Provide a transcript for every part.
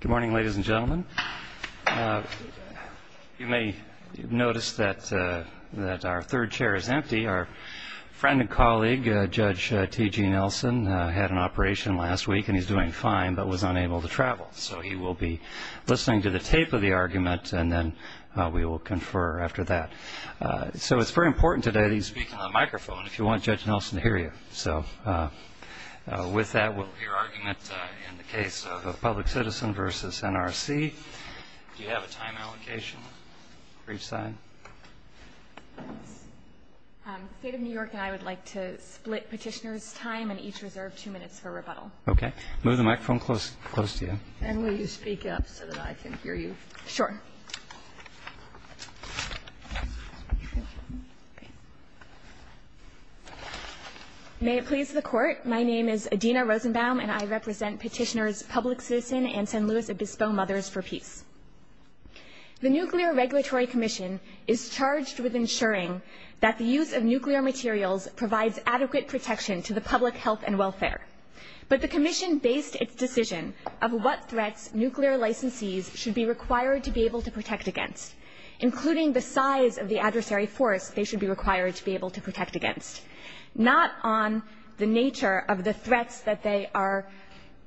Good morning, ladies and gentlemen. You may notice that our third chair is empty. Our friend and colleague, Judge T.G. Nelson, had an operation last week and he's doing fine but was unable to travel. So he will be listening to the tape of the argument and then we will confer after that. So it's very important today that you speak on the microphone if you want Judge Nelson to hear you. So with that will be our argument in the case of Public Citizen v. NRC. Do you have a time allocation for each side? The State of New York and I would like to split petitioners' time and each reserve two minutes for rebuttal. Okay. Move the microphone close to you. And will you speak up so that I can hear you? Sure. May it please the Court, my name is Adina Rosenbaum and I represent petitioners' Public Citizen and San Luis Obispo Mothers for Peace. The Nuclear Regulatory Commission is charged with ensuring that the use of nuclear materials provides adequate protection to the public health and welfare. But the Commission based its decision of what threats nuclear licensees should be required to be able to protect against, including the size of the adversary force they should be required to be able to protect against. Not on the nature of the threats that they are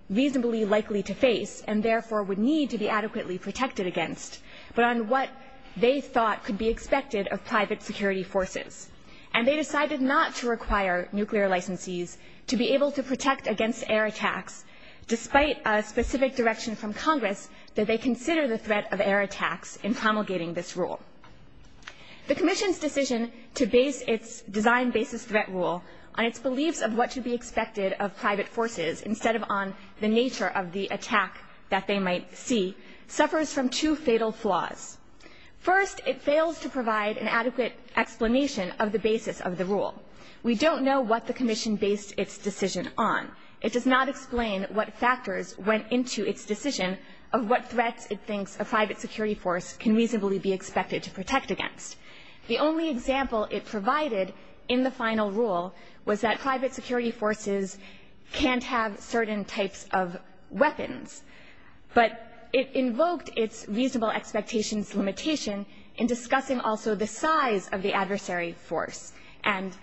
reasonably likely to face and therefore would need to be adequately protected against, but on what they thought could be expected of private security forces. And they decided not to require nuclear licensees to be able to protect against air attacks, despite a specific direction from Congress that they consider the threat of air attacks in promulgating this rule. The Commission's decision to base its design basis threat rule on its beliefs of what should be expected of private forces, instead of on the nature of the attack that they might see, suffers from two fatal flaws. First, it fails to provide an adequate explanation of the basis of the rule. We don't know what the Commission based its decision on. It does not explain what factors went into its decision of what threats it thinks a private security force can reasonably be expected to protect against. The only example it provided in the final rule was that private security forces can't have certain types of weapons. But it invoked its reasonable expectations limitation in discussing also the size of the adversary force. And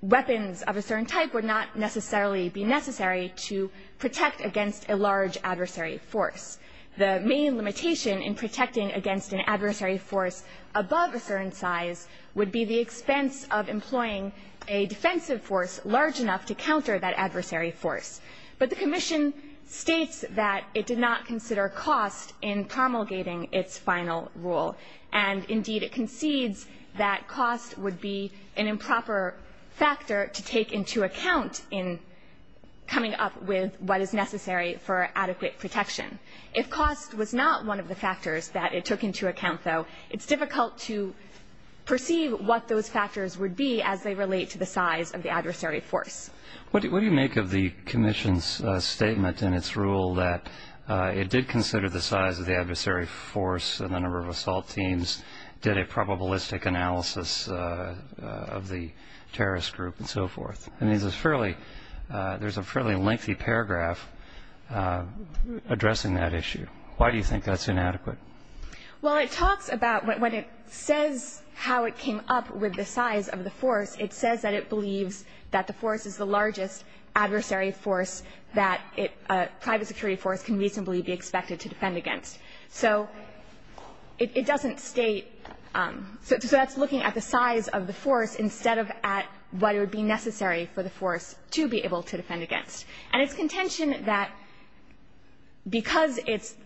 weapons of a certain type would not necessarily be necessary to protect against a large adversary force. The main limitation in protecting against an adversary force above a certain size would be the expense of employing a defensive force large enough to counter that adversary force. But the Commission states that it did not consider cost in promulgating its final rule. And, indeed, it concedes that cost would be an improper factor to take into account in coming up with what is necessary for adequate protection. If cost was not one of the factors that it took into account, though, it's difficult to perceive what those factors would be as they relate to the size of the adversary force. What do you make of the Commission's statement in its rule that it did consider the size of the adversary force and the number of assault teams, did a probabilistic analysis of the terrorist group and so forth? I mean, there's a fairly lengthy paragraph addressing that issue. Why do you think that's inadequate? Well, it talks about when it says how it came up with the size of the force, it says that it believes that the force is the largest adversary force that a private security force can reasonably be expected to defend against. So it doesn't state so that's looking at the size of the force instead of at what would be necessary for the force to be able to defend against. And its contention that because it's –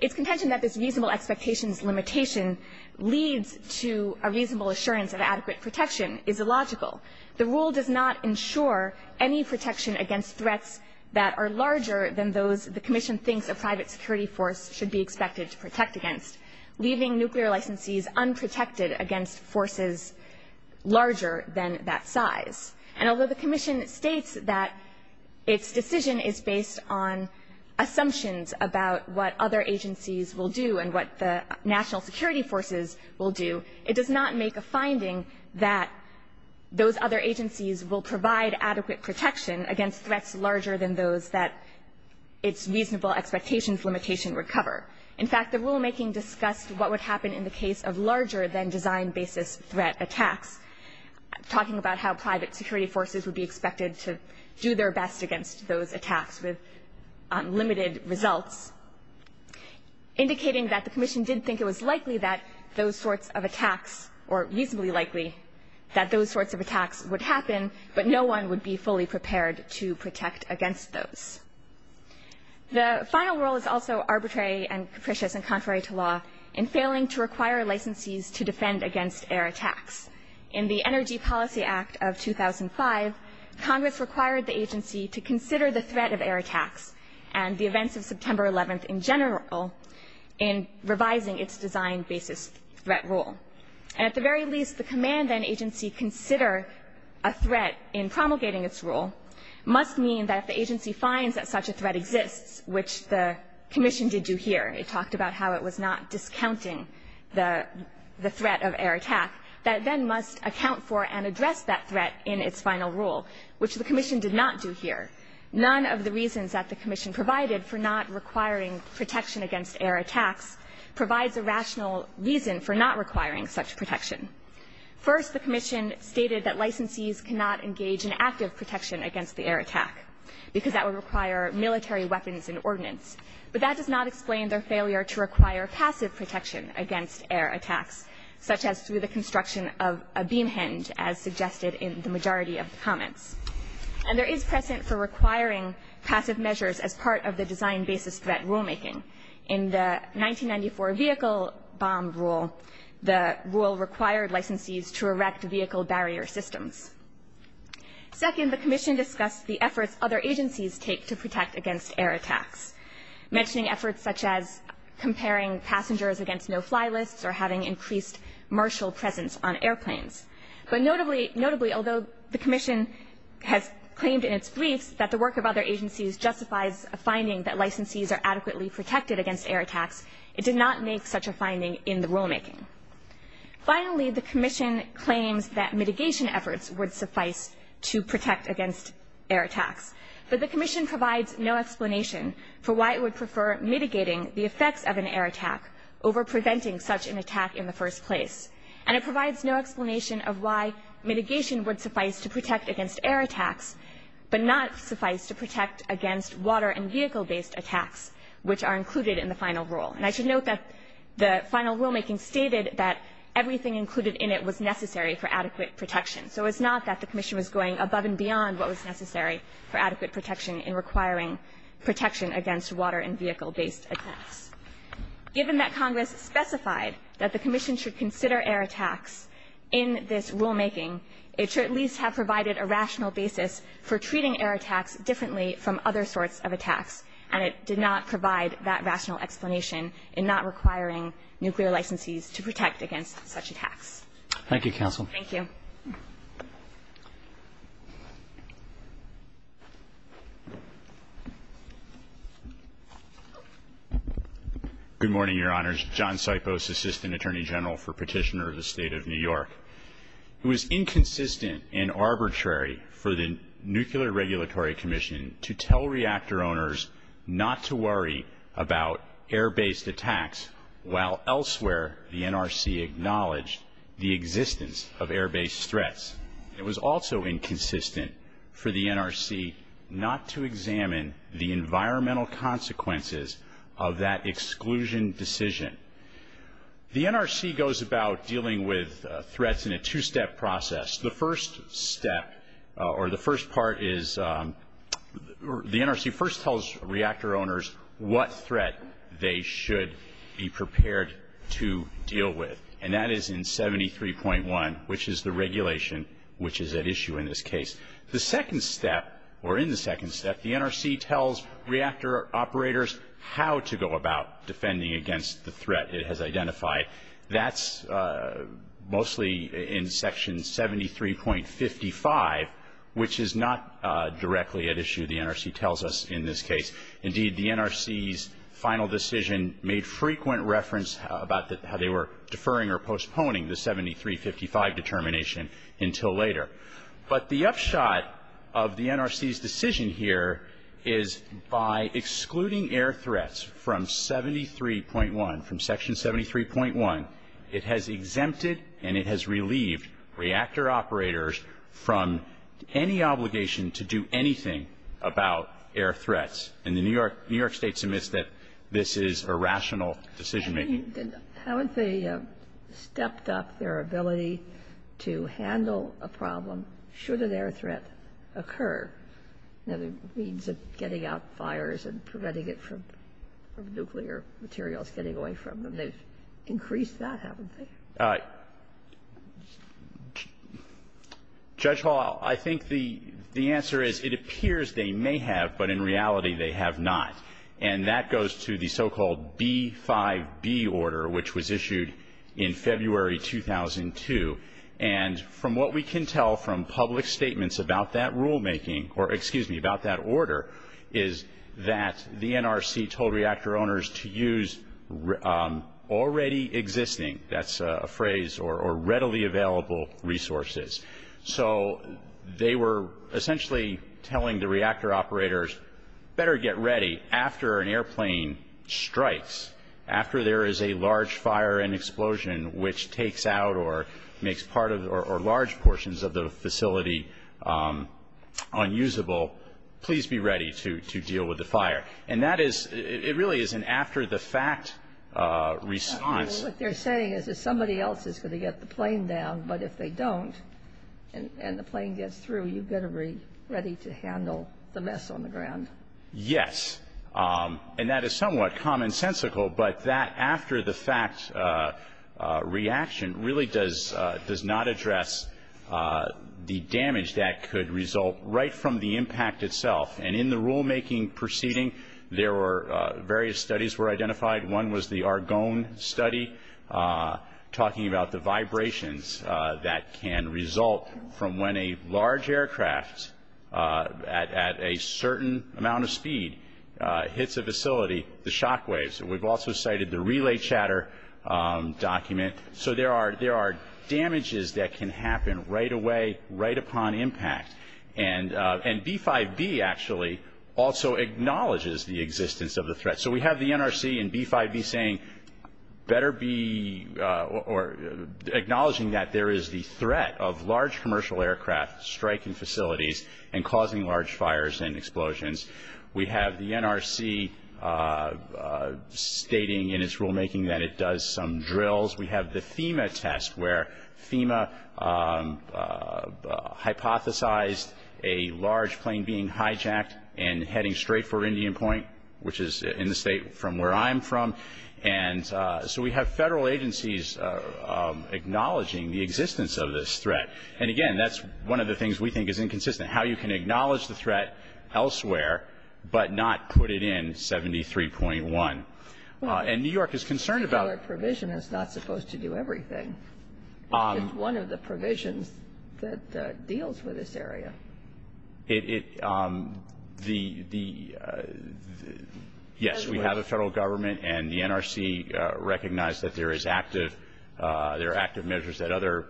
its contention that this reasonable expectations limitation leads to a reasonable assurance of adequate protection is illogical. The rule does not ensure any protection against threats that are larger than those the Commission thinks a private security force should be expected to protect against, leaving nuclear licensees unprotected against forces larger than that size. And although the Commission states that its decision is based on assumptions about what other agencies will do and what the national security forces will do, it does not make a finding that those other agencies will provide adequate protection against threats larger than those that its reasonable expectations limitation would cover. In fact, the rulemaking discussed what would happen in the case of larger-than-design-basis threat attacks, talking about how private security forces would be expected to do their best against those attacks with limited results, indicating that the Commission did think it was likely that those sorts of attacks or reasonably likely that those sorts of attacks would happen, but no one would be fully prepared to protect against those. The final rule is also arbitrary and capricious and contrary to law in failing to require licensees to defend against air attacks. In the Energy Policy Act of 2005, Congress required the agency to consider the threat of air attacks and the events of September 11th in general in revising its design-basis threat rule. And at the very least, the command that an agency consider a threat in promulgating its rule must mean that the agency finds that such a threat exists, which the Commission did do here. It talked about how it was not discounting the threat of air attack. That then must account for and address that threat in its final rule, which the Commission did not do here. None of the reasons that the Commission provided for not requiring protection against air attacks provides a rational reason for not requiring such protection. First, the Commission stated that licensees cannot engage in active protection against the air attack because that would require military weapons and ordnance. But that does not explain their failure to require passive protection against air attacks, such as through the construction of a beam hinge, as suggested in the majority of the comments. And there is precedent for requiring passive measures as part of the design-basis threat rulemaking. In the 1994 vehicle bomb rule, the rule required licensees to erect vehicle barrier systems. Second, the Commission discussed the efforts other agencies take to protect against air attacks. Mentioning efforts such as comparing passengers against no-fly lists or having increased marshal presence on airplanes. But notably, although the Commission has claimed in its briefs that the work of other agencies justifies a finding that licensees are adequately protected against air attacks, it did not make such a finding in the rulemaking. Finally, the Commission claims that mitigation efforts would suffice to protect against air attacks. But the Commission provides no explanation for why it would prefer mitigating the effects of an air attack over preventing such an attack in the first place. And it provides no explanation of why mitigation would suffice to protect against air attacks, but not suffice to protect against water- and vehicle-based attacks, which are included in the final rule. And I should note that the final rulemaking stated that everything included in it was necessary for adequate protection. So it's not that the Commission was going above and beyond what was necessary for adequate protection in requiring protection against water- and vehicle-based attacks. Given that Congress specified that the Commission should consider air attacks in this rulemaking, it should at least have provided a rational basis for treating air attacks differently from other sorts of attacks, and it did not provide that rational explanation in not requiring nuclear licensees to protect against such attacks. Thank you, Counsel. Thank you. Good morning, Your Honors. John Sipos, Assistant Attorney General for Petitioner of the State of New York. It was inconsistent and arbitrary for the Nuclear Regulatory Commission to tell reactor owners not to worry about air-based attacks while elsewhere the NRC acknowledged the existence of air-based threats. It was also inconsistent for the NRC not to examine the environmental consequences of that exclusion decision. The NRC goes about dealing with threats in a two-step process. The first step or the first part is the NRC first tells reactor owners what threat they should be prepared to deal with, and that is in 73.1, which is the regulation which is at issue in this case. The second step, or in the second step, the NRC tells reactor operators how to go about defending against the threat it has identified. That's mostly in Section 73.55, which is not directly at issue, the NRC tells us, in this case. Indeed, the NRC's final decision made frequent reference about how they were deferring or postponing the 73.55 determination until later. But the upshot of the NRC's decision here is by excluding air threats from 73.1, from Section 73.1, it has exempted and it has relieved reactor operators from any obligation to do anything about air threats. And the New York State submits that this is a rational decision-making. Haven't they stepped up their ability to handle a problem should an air threat occur? You know, the means of getting out fires and preventing it from nuclear materials getting away from them. They've increased that, haven't they? Judge Hall, I think the answer is it appears they may have, but in reality they have not. And that goes to the so-called B5B order, which was issued in February 2002. And from what we can tell from public statements about that rulemaking, or excuse me, about that order, is that the NRC told reactor owners to use already existing, that's a phrase, or readily available resources. So they were essentially telling the reactor operators, better get ready after an airplane strikes, after there is a large fire and explosion which takes out or makes large portions of the facility unusable, please be ready to deal with the fire. And that is, it really is an after-the-fact response. What they're saying is that somebody else is going to get the plane down, but if they don't and the plane gets through, you've got to be ready to handle the mess on the ground. Yes. And that is somewhat commonsensical, but that after-the-fact reaction really does not address the damage that could result right from the impact itself. And in the rulemaking proceeding, there were various studies were identified. One was the Argonne study, talking about the vibrations that can result from when a large aircraft at a certain amount of speed hits a facility, the shock waves. And we've also cited the relay chatter document. So there are damages that can happen right away, right upon impact. And B-5B actually also acknowledges the existence of the threat. So we have the NRC in B-5B saying, acknowledging that there is the threat of large commercial aircraft striking facilities and causing large fires and explosions. We have the NRC stating in its rulemaking that it does some drills. We have the FEMA test, where FEMA hypothesized a large plane being hijacked and heading straight for Indian Point, which is in the state from where I'm from. And so we have federal agencies acknowledging the existence of this threat. And, again, that's one of the things we think is inconsistent, how you can acknowledge the threat elsewhere but not put it in 73.1. And New York is concerned about it. Well, a three-dollar provision is not supposed to do everything. It's one of the provisions that deals with this area. It, it, the, the, yes, we have a federal government and the NRC recognized that there is active, there are active measures that other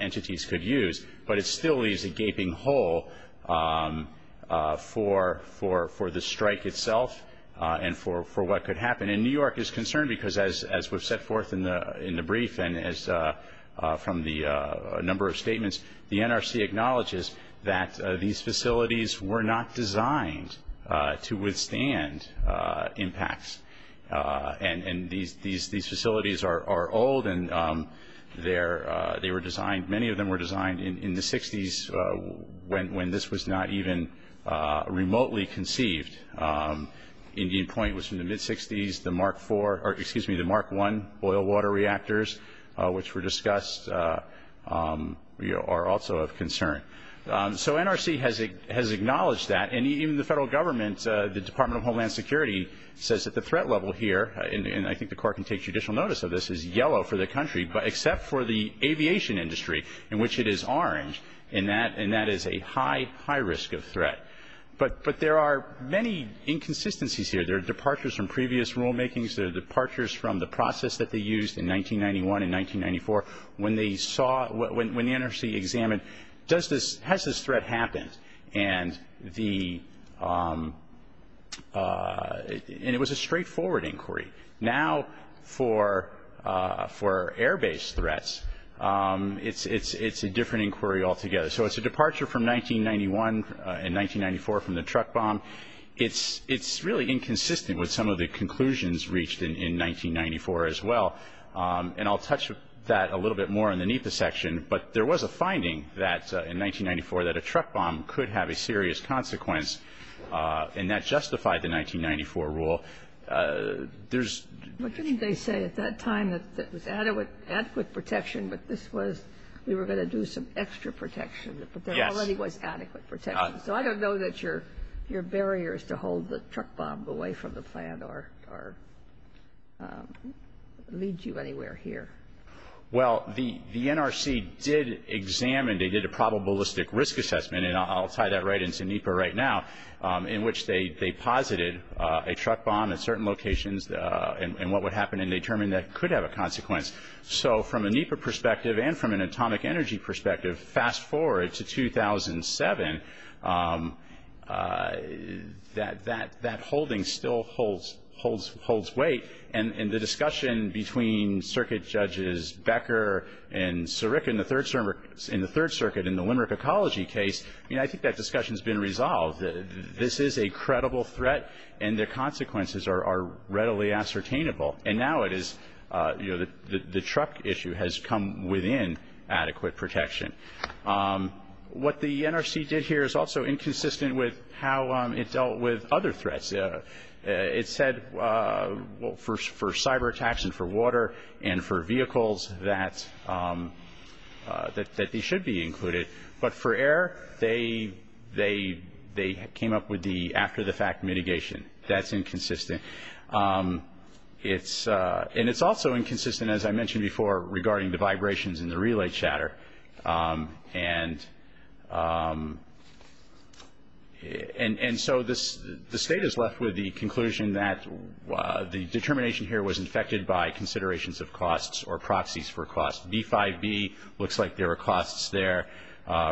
entities could use. But it still leaves a gaping hole for, for, for the strike itself and for, for what could happen. And New York is concerned because as, as we've set forth in the, in the brief and as from the number of statements, the NRC acknowledges that these facilities were not designed to withstand impacts. And, and these, these, these facilities are, are old and they're, they were designed, many of them were designed in, in the 60s when, when this was not even remotely conceived. Indian Point was in the mid-60s. The Mark 4, or excuse me, the Mark 1 oil water reactors, which were discussed, are also of concern. So NRC has, has acknowledged that. And even the federal government, the Department of Homeland Security says that the threat level here, and I think the court can take judicial notice of this, is yellow for the country, but except for the aviation industry in which it is orange. But, but there are many inconsistencies here. There are departures from previous rulemakings. There are departures from the process that they used in 1991 and 1994 when they saw, when, when the NRC examined, does this, has this threat happened? And the, and it was a straightforward inquiry. Now for, for air-based threats, it's, it's, it's a different inquiry altogether. So it's a departure from 1991 and 1994 from the truck bomb. It's, it's really inconsistent with some of the conclusions reached in, in 1994 as well. And I'll touch that a little bit more in the NEPA section. But there was a finding that in 1994 that a truck bomb could have a serious consequence. And that justified the 1994 rule. There's... But this was, we were going to do some extra protection. Yes. But there already was adequate protection. So I don't know that your, your barrier is to hold the truck bomb away from the plan or, or lead you anywhere here. Well, the, the NRC did examine, they did a probabilistic risk assessment, and I'll tie that right into NEPA right now, in which they, they posited a truck bomb at certain locations and, and what would happen and determined that it could have a consequence. So from a NEPA perspective and from an atomic energy perspective, fast forward to 2007, that, that, that holding still holds, holds, holds weight. And, and the discussion between Circuit Judges Becker and Siric in the Third Circuit in the Limerick Ecology case, I mean, I think that discussion's been resolved. This is a credible threat and the consequences are, are readily ascertainable. And now it is, you know, the, the truck issue has come within adequate protection. What the NRC did here is also inconsistent with how it dealt with other threats. It said, well, for, for cyber attacks and for water and for vehicles that, that, that they should be included. But for air, they, they, they came up with the after the fact mitigation. That's inconsistent. It's, and it's also inconsistent, as I mentioned before, regarding the vibrations in the relay chatter. And, and, and so this, the State is left with the conclusion that the determination here was infected by considerations of costs or proxies for costs. B5B looks like there are costs there.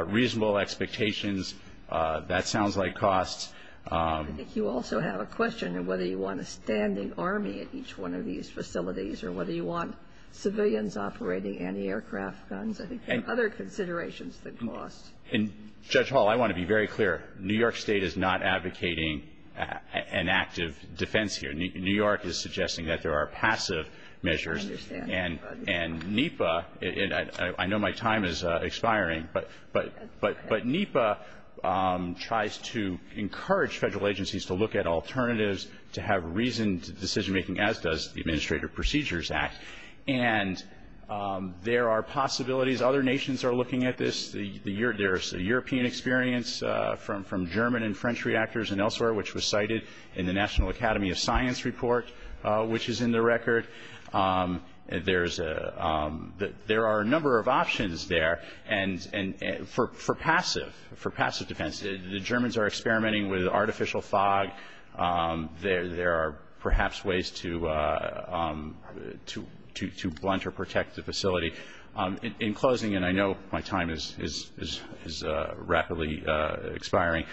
Reasonable expectations, that sounds like costs. I think you also have a question of whether you want a standing army at each one of these facilities or whether you want civilians operating anti-aircraft guns. I think there are other considerations that cost. And, Judge Hall, I want to be very clear. New York State is not advocating an active defense here. New York is suggesting that there are passive measures. And, and NEPA, and I, I know my time is expiring, but, but, but, but NEPA tries to encourage federal agencies to look at alternatives to have reasoned decision making, as does the Administrative Procedures Act. And there are possibilities. Other nations are looking at this. There's a European experience from, from German and French reactors and elsewhere, which was cited in the National Academy of Science report, which is in the record. There's a, there are a number of options there. And, and for, for passive, for passive defense, the Germans are experimenting with artificial fog. There, there are perhaps ways to, to, to blunt or protect the facility. In closing, and I know my time is, is, is rapidly expiring,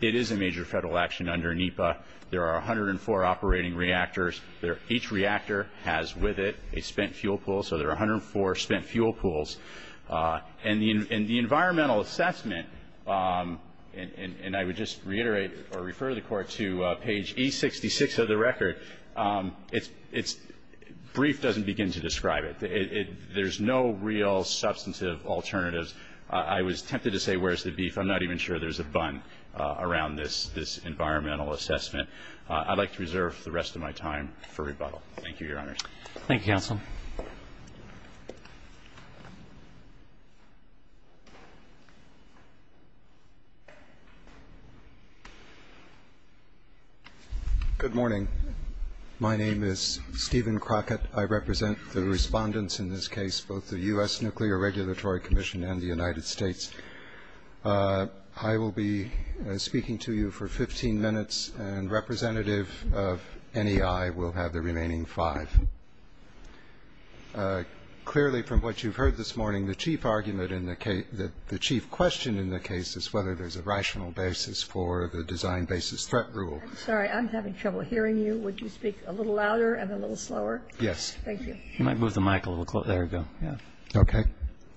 it is a major federal action under NEPA. There are 104 operating reactors. There, each reactor has with it a spent fuel pool. So there are 104 spent fuel pools. And the, and the environmental assessment, and, and, and I would just reiterate or refer the Court to page E66 of the record, it's, it's, brief doesn't begin to describe it. It, it, there's no real substantive alternatives. I was tempted to say where's the beef. I'm not even sure there's a bun around this, this environmental assessment. I'd like to reserve the rest of my time for rebuttal. Thank you, Your Honors. Thank you, Counsel. Good morning. My name is Stephen Crockett. I represent the respondents in this case, both the U.S. Nuclear Regulatory Commission and the United States. I will be speaking to you for 15 minutes, and representative of NEI will have the remaining five. Clearly, from what you've heard this morning, the chief argument in the case, the chief question in the case is whether there's a rational basis for the design basis threat rule. I'm sorry. I'm having trouble hearing you. Would you speak a little louder and a little slower? Yes. Thank you. You might move the mic a little closer. There we go. Yeah. Okay.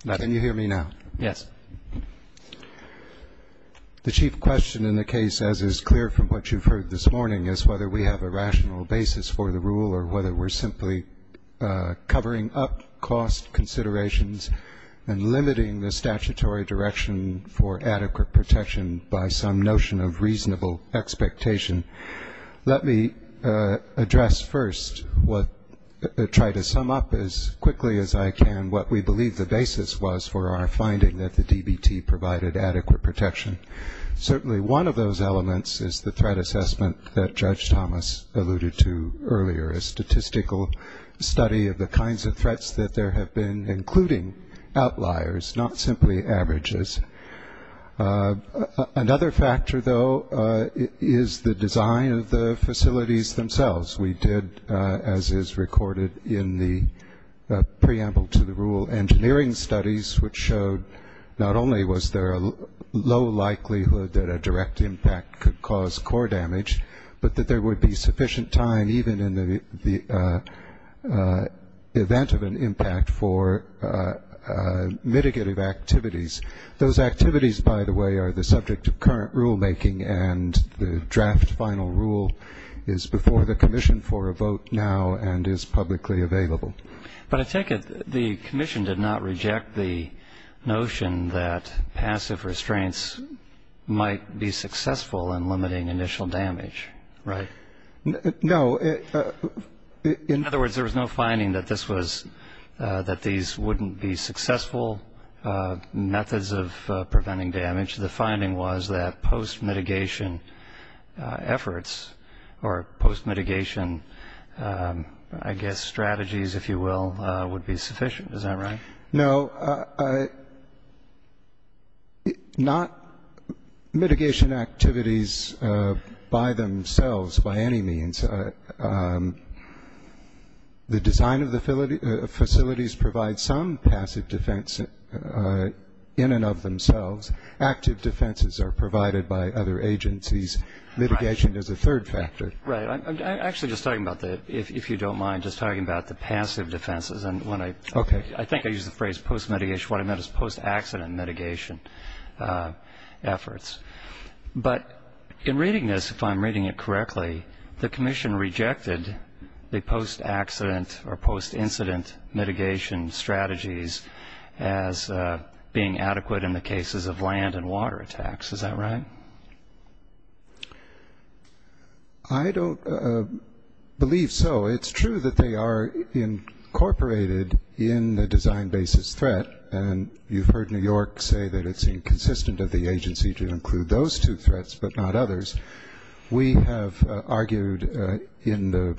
Can you hear me now? Yes. The chief question in the case, as is clear from what you've heard this morning, is whether we have a rational basis for the rule or whether we're simply covering up cost considerations and limiting the statutory direction for adequate protection by some notion of reasonable expectation. Let me address first, try to sum up as quickly as I can, what we believe the basis was for our finding that the DBT provided adequate protection. Certainly one of those elements is the threat assessment that Judge Thomas alluded to earlier, a statistical study of the kinds of threats that there have been, including outliers, not simply averages. Another factor, though, is the design of the facilities themselves. We did, as is recorded in the preamble to the rule, engineering studies, which showed not only was there a low likelihood that a direct impact could cause core damage, but that there would be sufficient time even in the event of an impact for mitigative activities. Those activities, by the way, are the subject of current rulemaking, and the draft final rule is before the commission for a vote now and is publicly available. But I take it the commission did not reject the notion that passive restraints might be successful in limiting initial damage, right? No. In other words, there was no finding that this was, that these wouldn't be successful, methods of preventing damage. The finding was that post-mitigation efforts or post-mitigation, I guess, strategies, if you will, would be sufficient. Is that right? No. Not mitigation activities by themselves, by any means. The design of the facilities provides some passive defense in and of themselves. Active defenses are provided by other agencies. Mitigation is a third factor. Right. I'm actually just talking about the, if you don't mind, just talking about the passive defenses. Okay. I think I used the phrase post-mitigation. What I meant is post-accident mitigation efforts. But in reading this, if I'm reading it correctly, the commission rejected the post-accident or post-incident mitigation strategies as being adequate in the cases of land and water attacks. Is that right? I don't believe so. It's true that they are incorporated in the design basis threat, and you've heard New York say that it's inconsistent of the agency to include those two threats but not others. We have argued in the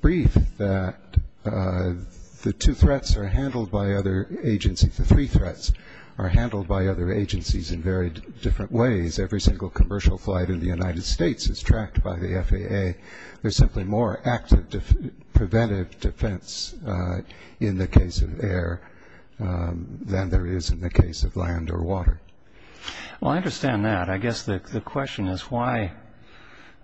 brief that the two threats are handled by other agencies. The three threats are handled by other agencies in very different ways. Every single commercial flight in the United States is tracked by the FAA. There's simply more active preventive defense in the case of air than there is in the case of land or water. Well, I understand that. I guess the question is why,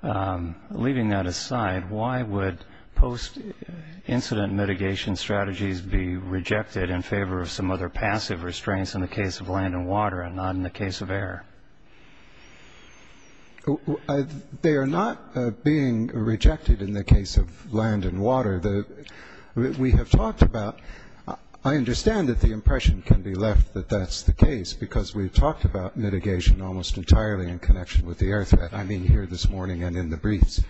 leaving that aside, why would post-incident mitigation strategies be rejected in favor of some other passive restraints in the case of land and water and not in the case of air? They are not being rejected in the case of land and water. We have talked about ñ I understand that the impression can be left that that's the case because we've talked about mitigation almost entirely in connection with the air threat, I mean here this morning and in the briefs.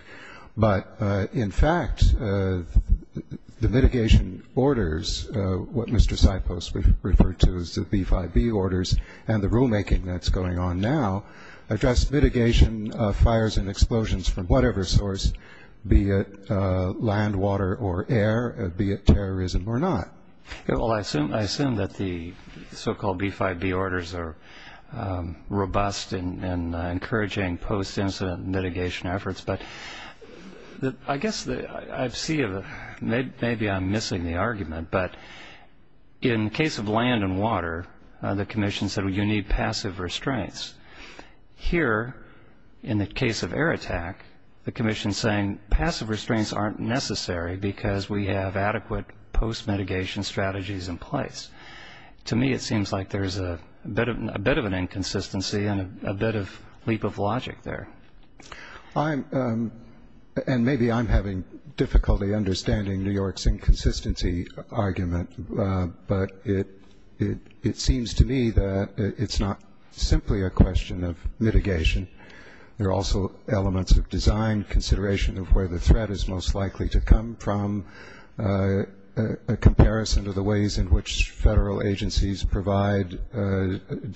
But, in fact, the mitigation orders, what Mr. Sipos referred to as the B5B orders, and the rulemaking that's going on now address mitigation of fires and explosions from whatever source, be it land, water, or air, be it terrorism or not. Well, I assume that the so-called B5B orders are robust and encouraging post-incident mitigation efforts. But I guess I see ñ maybe I'm missing the argument. But in the case of land and water, the commission said you need passive restraints. Here, in the case of air attack, the commission is saying passive restraints aren't necessary because we have adequate post-mitigation strategies in place. To me it seems like there's a bit of an inconsistency and a bit of leap of logic there. I'm ñ and maybe I'm having difficulty understanding New York's inconsistency argument. But it seems to me that it's not simply a question of mitigation. There are also elements of design, consideration of where the threat is most likely to come from, a comparison of the ways in which federal agencies provide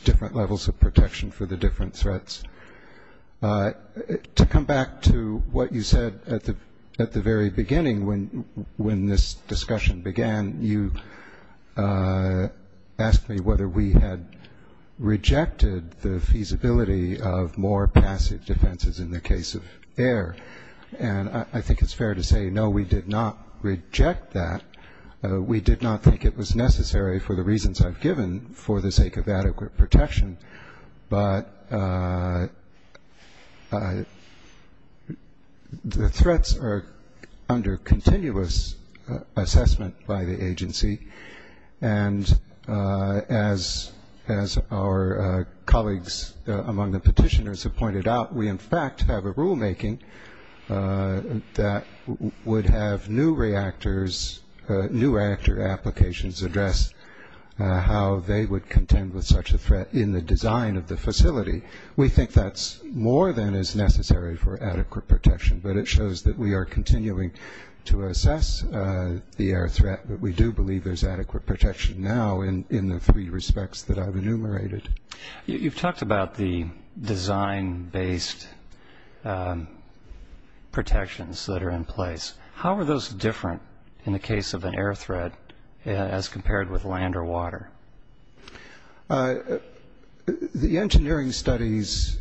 different levels of protection for the different threats. To come back to what you said at the very beginning when this discussion began, you asked me whether we had rejected the feasibility of more passive defenses in the case of air. And I think it's fair to say no, we did not reject that. We did not think it was necessary for the reasons I've given for the sake of adequate protection. But the threats are under continuous assessment by the agency. And as our colleagues among the petitioners have pointed out, we in fact have a rulemaking that would have new reactor applications address how they would contend with such a threat in the design of the facility. We think that's more than is necessary for adequate protection. But it shows that we are continuing to assess the air threat, but we do believe there's adequate protection now in the three respects that I've enumerated. You've talked about the design-based protections that are in place. How are those different in the case of an air threat as compared with land or water? The engineering studies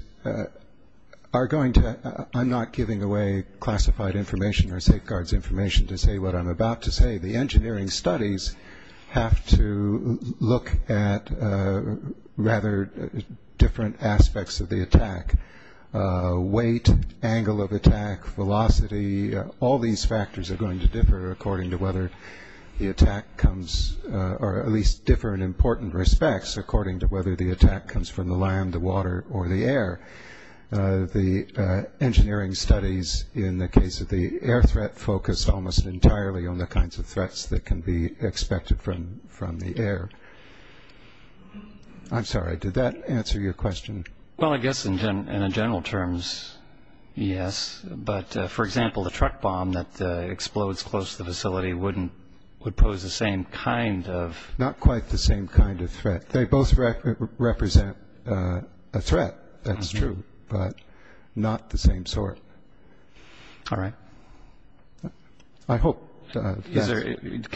are going to – I'm not giving away classified information or safeguards information to say what I'm about to say. The engineering studies have to look at rather different aspects of the attack. Weight, angle of attack, velocity, all these factors are going to differ according to whether the attack comes – or at least differ in important respects according to whether the attack comes from the land, the water, or the air. The engineering studies in the case of the air threat focus almost entirely on the kinds of threats that can be expected from the air. I'm sorry, did that answer your question? Well, I guess in general terms, yes. But, for example, the truck bomb that explodes close to the facility would pose the same kind of – not quite the same kind of threat. Can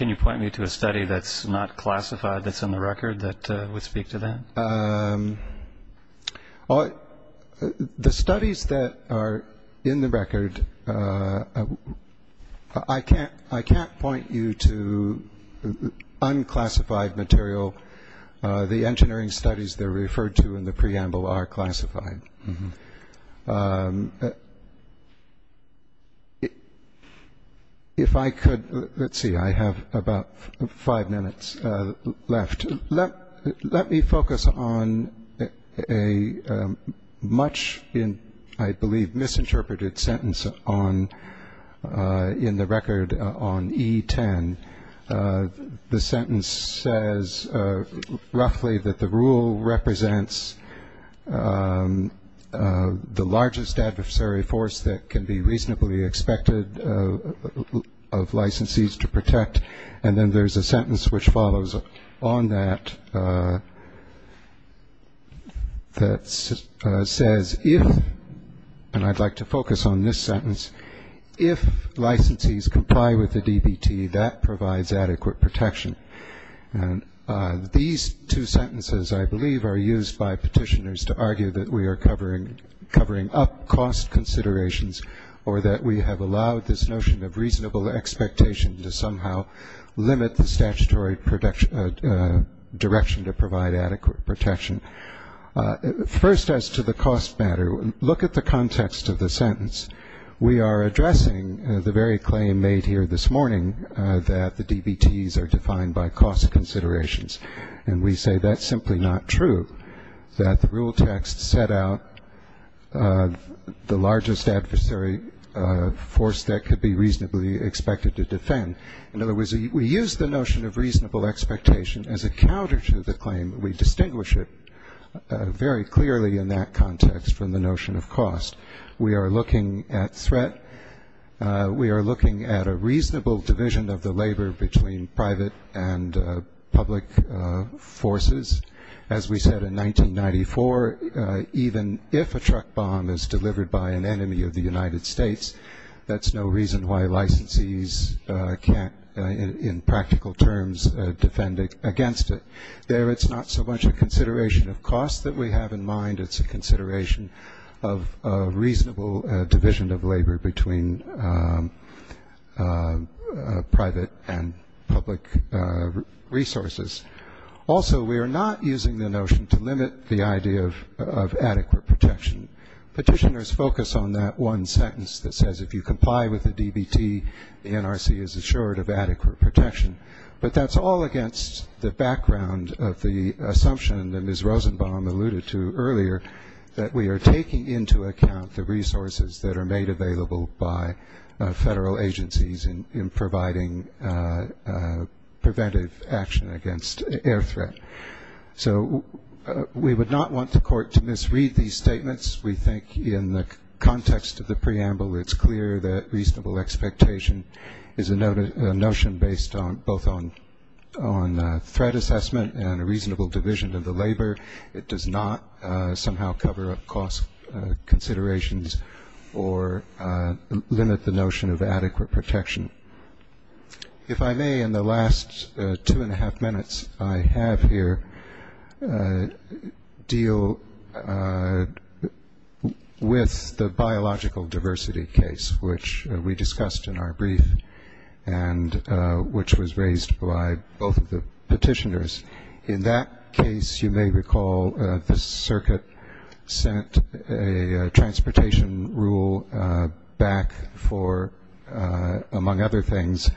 you point me to a study that's not classified that's in the record that would speak to that? The studies that are in the record – I can't point you to unclassified studies. Unclassified material – the engineering studies that are referred to in the preamble are classified. If I could – let's see, I have about five minutes left. Let me focus on a much, I believe, misinterpreted sentence in the record on E10. The sentence says roughly that the rule represents the largest adversary force that can be reasonably expected of licensees to protect. And then there's a sentence which follows on that that says if – and I'd like to focus on this sentence – if licensees comply with the DBT, that provides adequate protection. These two sentences, I believe, are used by petitioners to argue that we are covering up cost considerations or that we have allowed this notion of reasonable expectation to somehow limit the statutory direction to provide adequate protection. First, as to the cost matter, look at the context of the sentence. We are addressing the very claim made here this morning that the DBTs are defined by cost considerations. And we say that's simply not true, that the rule text set out the largest adversary force that could be reasonably expected to defend. In other words, we use the notion of reasonable expectation as a counter to the claim. We distinguish it very clearly in that context from the notion of cost. We are looking at threat, we are looking at a reasonable division of the labor between private and public forces. As we said in 1994, even if a truck bomb is delivered by an enemy of the United States, that's no reason why licensees can't, in practical terms, defend against it. There, it's not so much a consideration of cost that we have in mind, it's a consideration of reasonable division of labor between private and public resources. Also, we are not using the notion to limit the idea of adequate protection. Petitioners focus on that one sentence that says if you comply with the DBT, the NRC is assured of adequate protection. But that's all against the background of the assumption that Ms. Rosenbaum alluded to earlier, that we are taking into account the resources that are made available by federal agencies in providing preventive action against air threat. So we would not want the court to misread these statements. We think in the context of the preamble, it's clear that reasonable expectation is a notion based both on threat assessment and a reasonable division of the labor. It does not somehow cover up cost considerations or limit the notion of adequate protection. If I may, in the last two and a half minutes, I have here deal with the notion of adequate protection. With the biological diversity case, which we discussed in our brief, and which was raised by both of the petitioners. In that case, you may recall the circuit sent a transportation rule back for, among other things,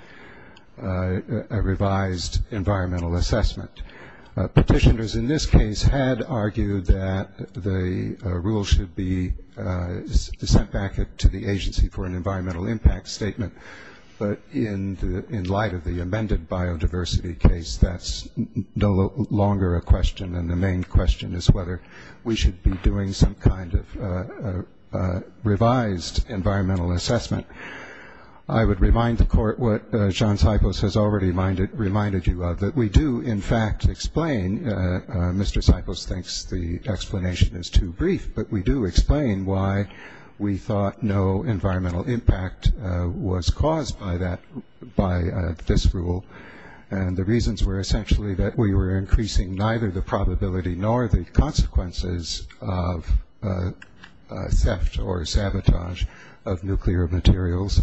a revised environmental assessment. Petitioners in this case had argued that the rule should be sent back to the agency for an environmental impact statement. But in light of the amended biodiversity case, that's no longer a question. And the main question is whether we should be doing some kind of revised environmental assessment. I would remind the court what John Sipos has already reminded you of. We do in fact explain, Mr. Sipos thinks the explanation is too brief, but we do explain why we thought no environmental impact was caused by this rule. And the reasons were essentially that we were increasing neither the probability nor the consequences of theft or sabotage of nuclear materials.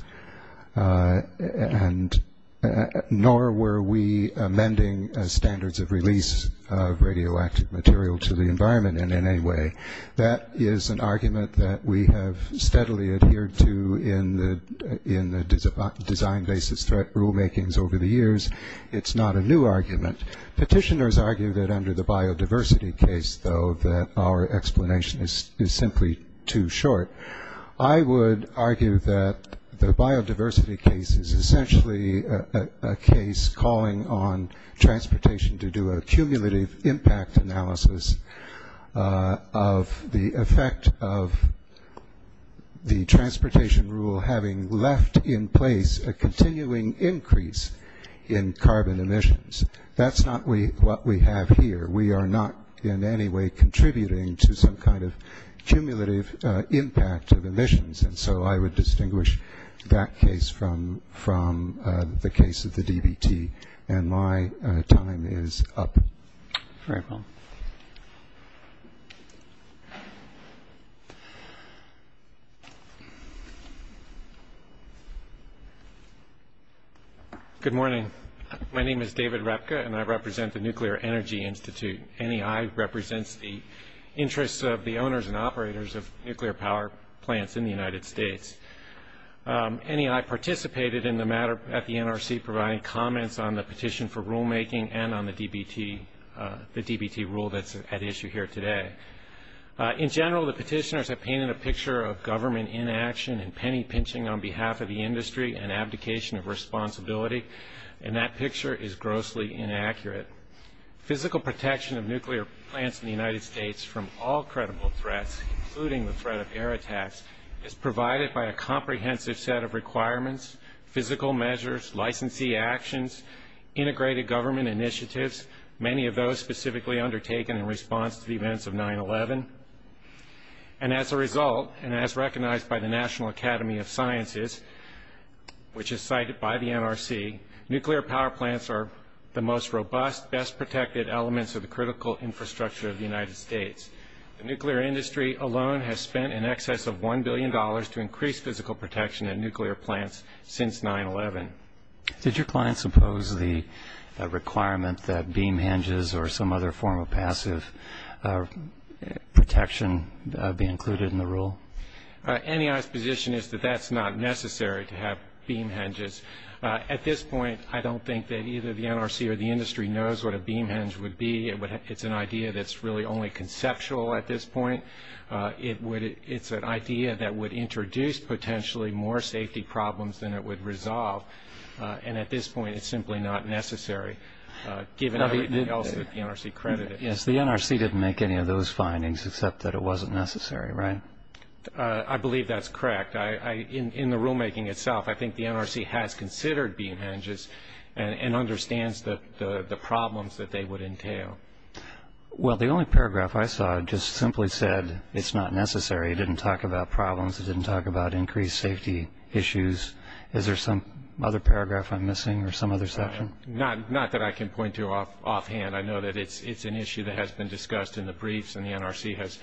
Nor were we amending standards of release of radioactive material to the environment in any way. That is an argument that we have steadily adhered to in the design basis threat rule makings over the years. It's not a new argument. Petitioners argue that under the biodiversity case, though, that our explanation is simply too short. The biodiversity case is essentially a case calling on transportation to do a cumulative impact analysis of the effect of the transportation rule having left in place a continuing increase in carbon emissions. That's not what we have here. We are not in any way contributing to some kind of cumulative impact of emissions. And so I would distinguish that case from the case of the DBT. And my time is up. Very well. Good morning. My name is David Repka and I represent the Nuclear Energy Institute. NEI represents the interests of the owners and operators of nuclear power plants in the United States. And I'm going to talk briefly about the DBT rule that's at issue here today. In general, the petitioners have painted a picture of government inaction and penny-pinching on behalf of the industry and abdication of responsibility. And that picture is grossly inaccurate. Physical protection of nuclear plants in the United States from all credible threats, including the threat of air attacks, is provided by a comprehensive set of requirements, physical measures, licensee actions, integrated government initiatives, many of those specifically undertaken in response to the events of 9-11. And as a result, and as recognized by the National Academy of Sciences, which is cited by the NRC, nuclear power plants are the most robust, best-protected elements of the critical infrastructure of the United States. The nuclear industry alone has spent in excess of $1 billion to increase physical protection of nuclear plants since 9-11. Did your clients oppose the requirement that beam hinges or some other form of passive protection be included in the rule? NEI's position is that that's not necessary to have beam hinges. At this point, I don't think that either the NRC or the industry knows what a beam hinge would be. It's an idea that's really only conceptual at this point. It's an idea that would introduce potentially more safety problems than it would resolve. And at this point, it's simply not necessary, given everything else that the NRC credited. Yes, the NRC didn't make any of those findings, except that it wasn't necessary, right? I believe that's correct. In the rulemaking itself, I think the NRC has considered beam hinges and understands the problems that they would entail. Well, the only paragraph I saw just simply said it's not necessary. It didn't talk about problems. It didn't talk about increased safety issues. Is there some other paragraph I'm missing or some other section? Not that I can point to offhand. I know that it's an issue that has been discussed in the briefs, and the NRC has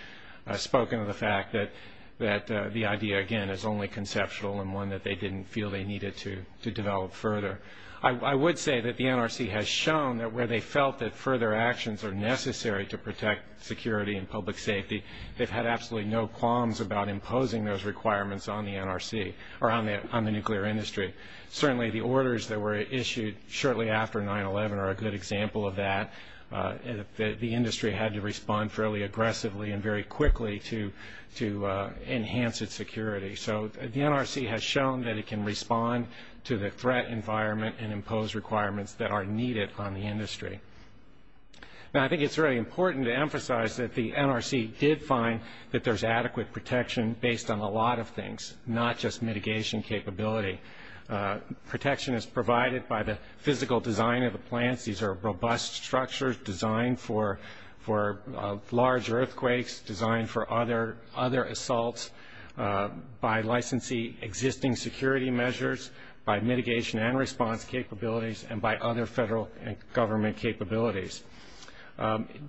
spoken of the fact that the idea, again, is only conceptual and one that they didn't feel they needed to develop further. I would say that the NRC has shown that where they felt that further actions are necessary to protect security and public safety, they've had absolutely no qualms about imposing those requirements on the NRC or on the nuclear industry. Certainly the orders that were issued shortly after 9-11 are a good example of that. The industry had to respond fairly aggressively and very quickly to enhance its security. So the NRC has shown that it can respond to the threat environment and impose requirements that are needed on the industry. Now, I think it's really important to emphasize that the NRC did find that there's adequate protection based on a lot of things, not just mitigation capability. Protection is provided by the physical design of the plants. These are robust structures designed for large earthquakes, designed for other assaults, by licensing existing security measures, by mitigation and response capabilities, and by other federal and government capabilities.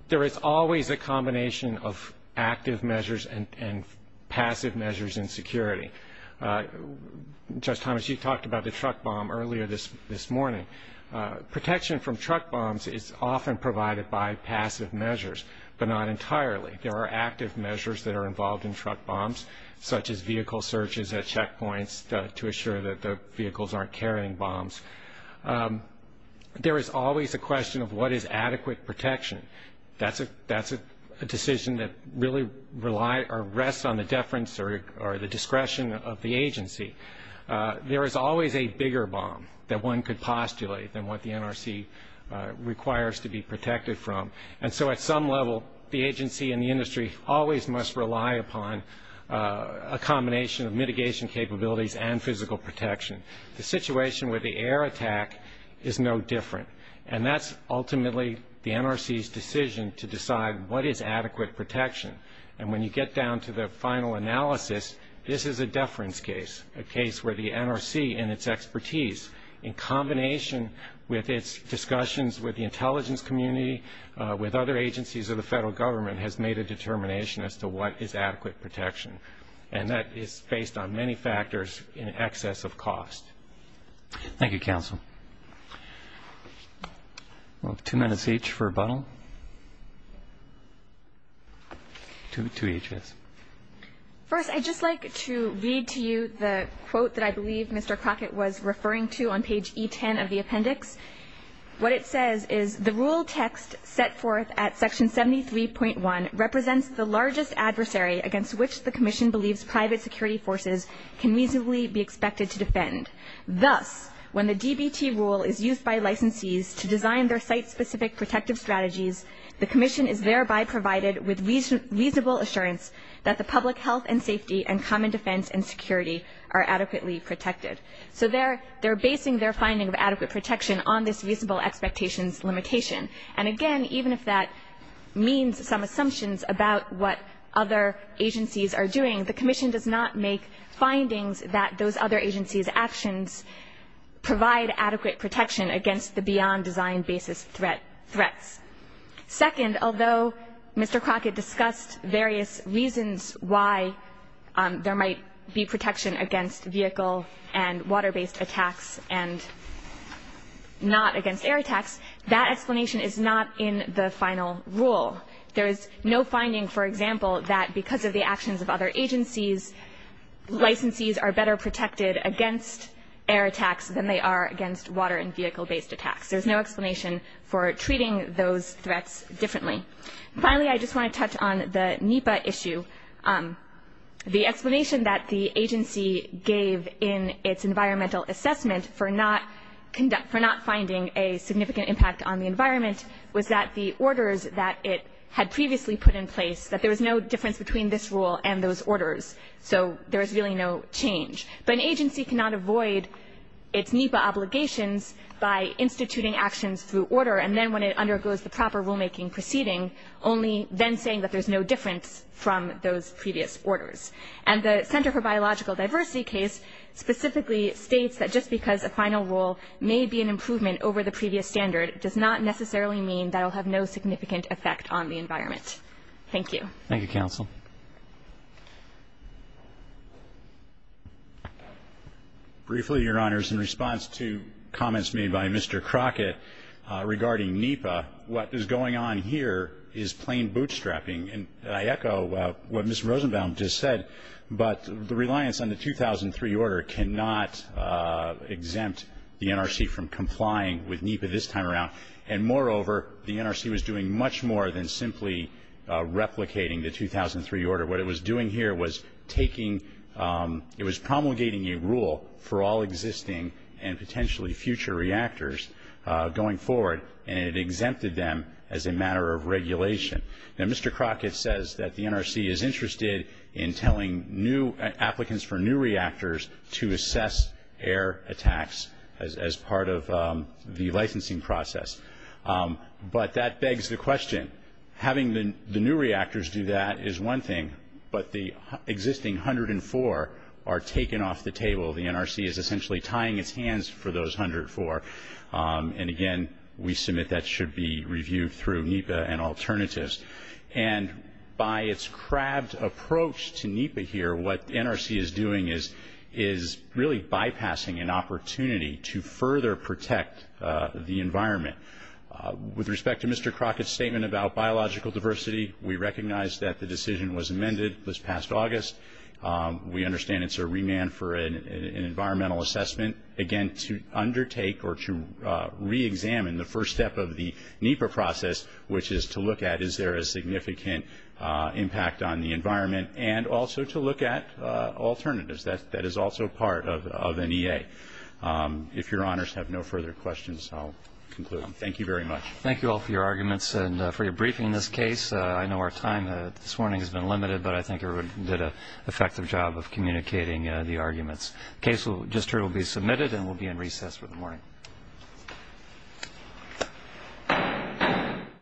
There is always a combination of active measures and passive measures in security. Judge Thomas, you talked about the truck bomb earlier this morning. Protection from truck bombs is often provided by passive measures, but not entirely. There are active measures that are involved in truck bombs, such as vehicle searches at checkpoints to assure that the vehicles aren't carrying bombs. There is always a question of what is adequate protection. That's a decision that really rests on the deference or the discretion of the agency. There is always a bigger bomb that one could postulate than what the NRC requires to be protected from. And so at some level, the agency and the industry always must rely upon a combination of mitigation capabilities and physical protection. The situation with the air attack is no different, and that's ultimately the NRC's decision to decide what is adequate protection. And when you get down to the final analysis, this is a deference case, a case where the NRC in its expertise, in combination with its discussions with the intelligence community, with other agencies of the federal government, has made a determination as to what is adequate protection. And that is based on many factors in excess of cost. Thank you, counsel. We'll have two minutes each for rebuttal. Two each, yes. First, I'd just like to read to you the quote that I believe Mr. Crockett was referring to on page E10 of the appendix. What it says is, the rule text set forth at section 73.1 represents the largest adversary against which the Commission believes private security forces can reasonably be expected to defend. Thus, when the DBT rule is used by licensees to design their site-specific protective strategies, the Commission is thereby provided with reasonable assurance that the public health and safety and common defense and security are adequately protected. So they're basing their finding of adequate protection on this reasonable expectations limitation. And again, even if that means some assumptions about what other agencies are doing, the Commission does not make findings that those other agencies' actions provide adequate protection against the beyond-design-basis threats. Second, although Mr. Crockett discussed various reasons why there might be protection against vehicle and water-based attacks and not against air attacks, that explanation is not in the final rule. There is no finding, for example, that because of the actions of other agencies, licensees are better protected against air attacks than they are against water and vehicle-based attacks. There's no explanation for treating those threats differently. Finally, I just want to touch on the NEPA issue. The explanation that the agency gave in its environmental assessment for not finding a significant impact on the environment was that the orders that it had previously put in place, that there was no difference between this rule and those orders. So there was really no change. But an agency cannot avoid its NEPA obligations by instituting actions through order, and then when it undergoes the proper rulemaking proceeding, only then saying that there's no difference from those previous orders. And the Center for Biological Diversity case specifically states that just because a final rule may be an improvement over the previous standard does not necessarily mean that it will have no significant effect on the environment. Thank you. Thank you, counsel. Briefly, Your Honors, in response to comments made by Mr. Crockett regarding NEPA, what is going on here is plain bootstrapping. And I echo what Ms. Rosenbaum just said, but the reliance on the 2003 order cannot exempt the NRC from complying with NEPA this time around. And moreover, the NRC was doing much more than simply replicating the 2003 order. What it was doing here was promulgating a rule for all existing and potentially future reactors going forward, and it exempted them as a matter of regulation. Now, Mr. Crockett says that the NRC is interested in telling applicants for new reactors to assess air attacks as part of the licensing process. But that begs the question. Having the new reactors do that is one thing, but the existing 104 are taken off the table. The NRC is essentially tying its hands for those 104. And again, we submit that should be reviewed through NEPA and alternatives. And by its crabbed approach to NEPA here, what the NRC is doing is really bypassing an opportunity to further protect the environment. With respect to Mr. Crockett's statement about biological diversity, we recognize that the decision was amended this past August. We understand it's a remand for an environmental assessment. Again, to undertake or to reexamine the first step of the NEPA process, which is to look at is there a significant impact on the environment, and also to look at alternatives. That is also part of an EA. If your honors have no further questions, I'll conclude. Thank you very much. Thank you all for your arguments and for your briefing in this case. I know our time this morning has been limited, but I think everybody did an effective job of communicating the arguments.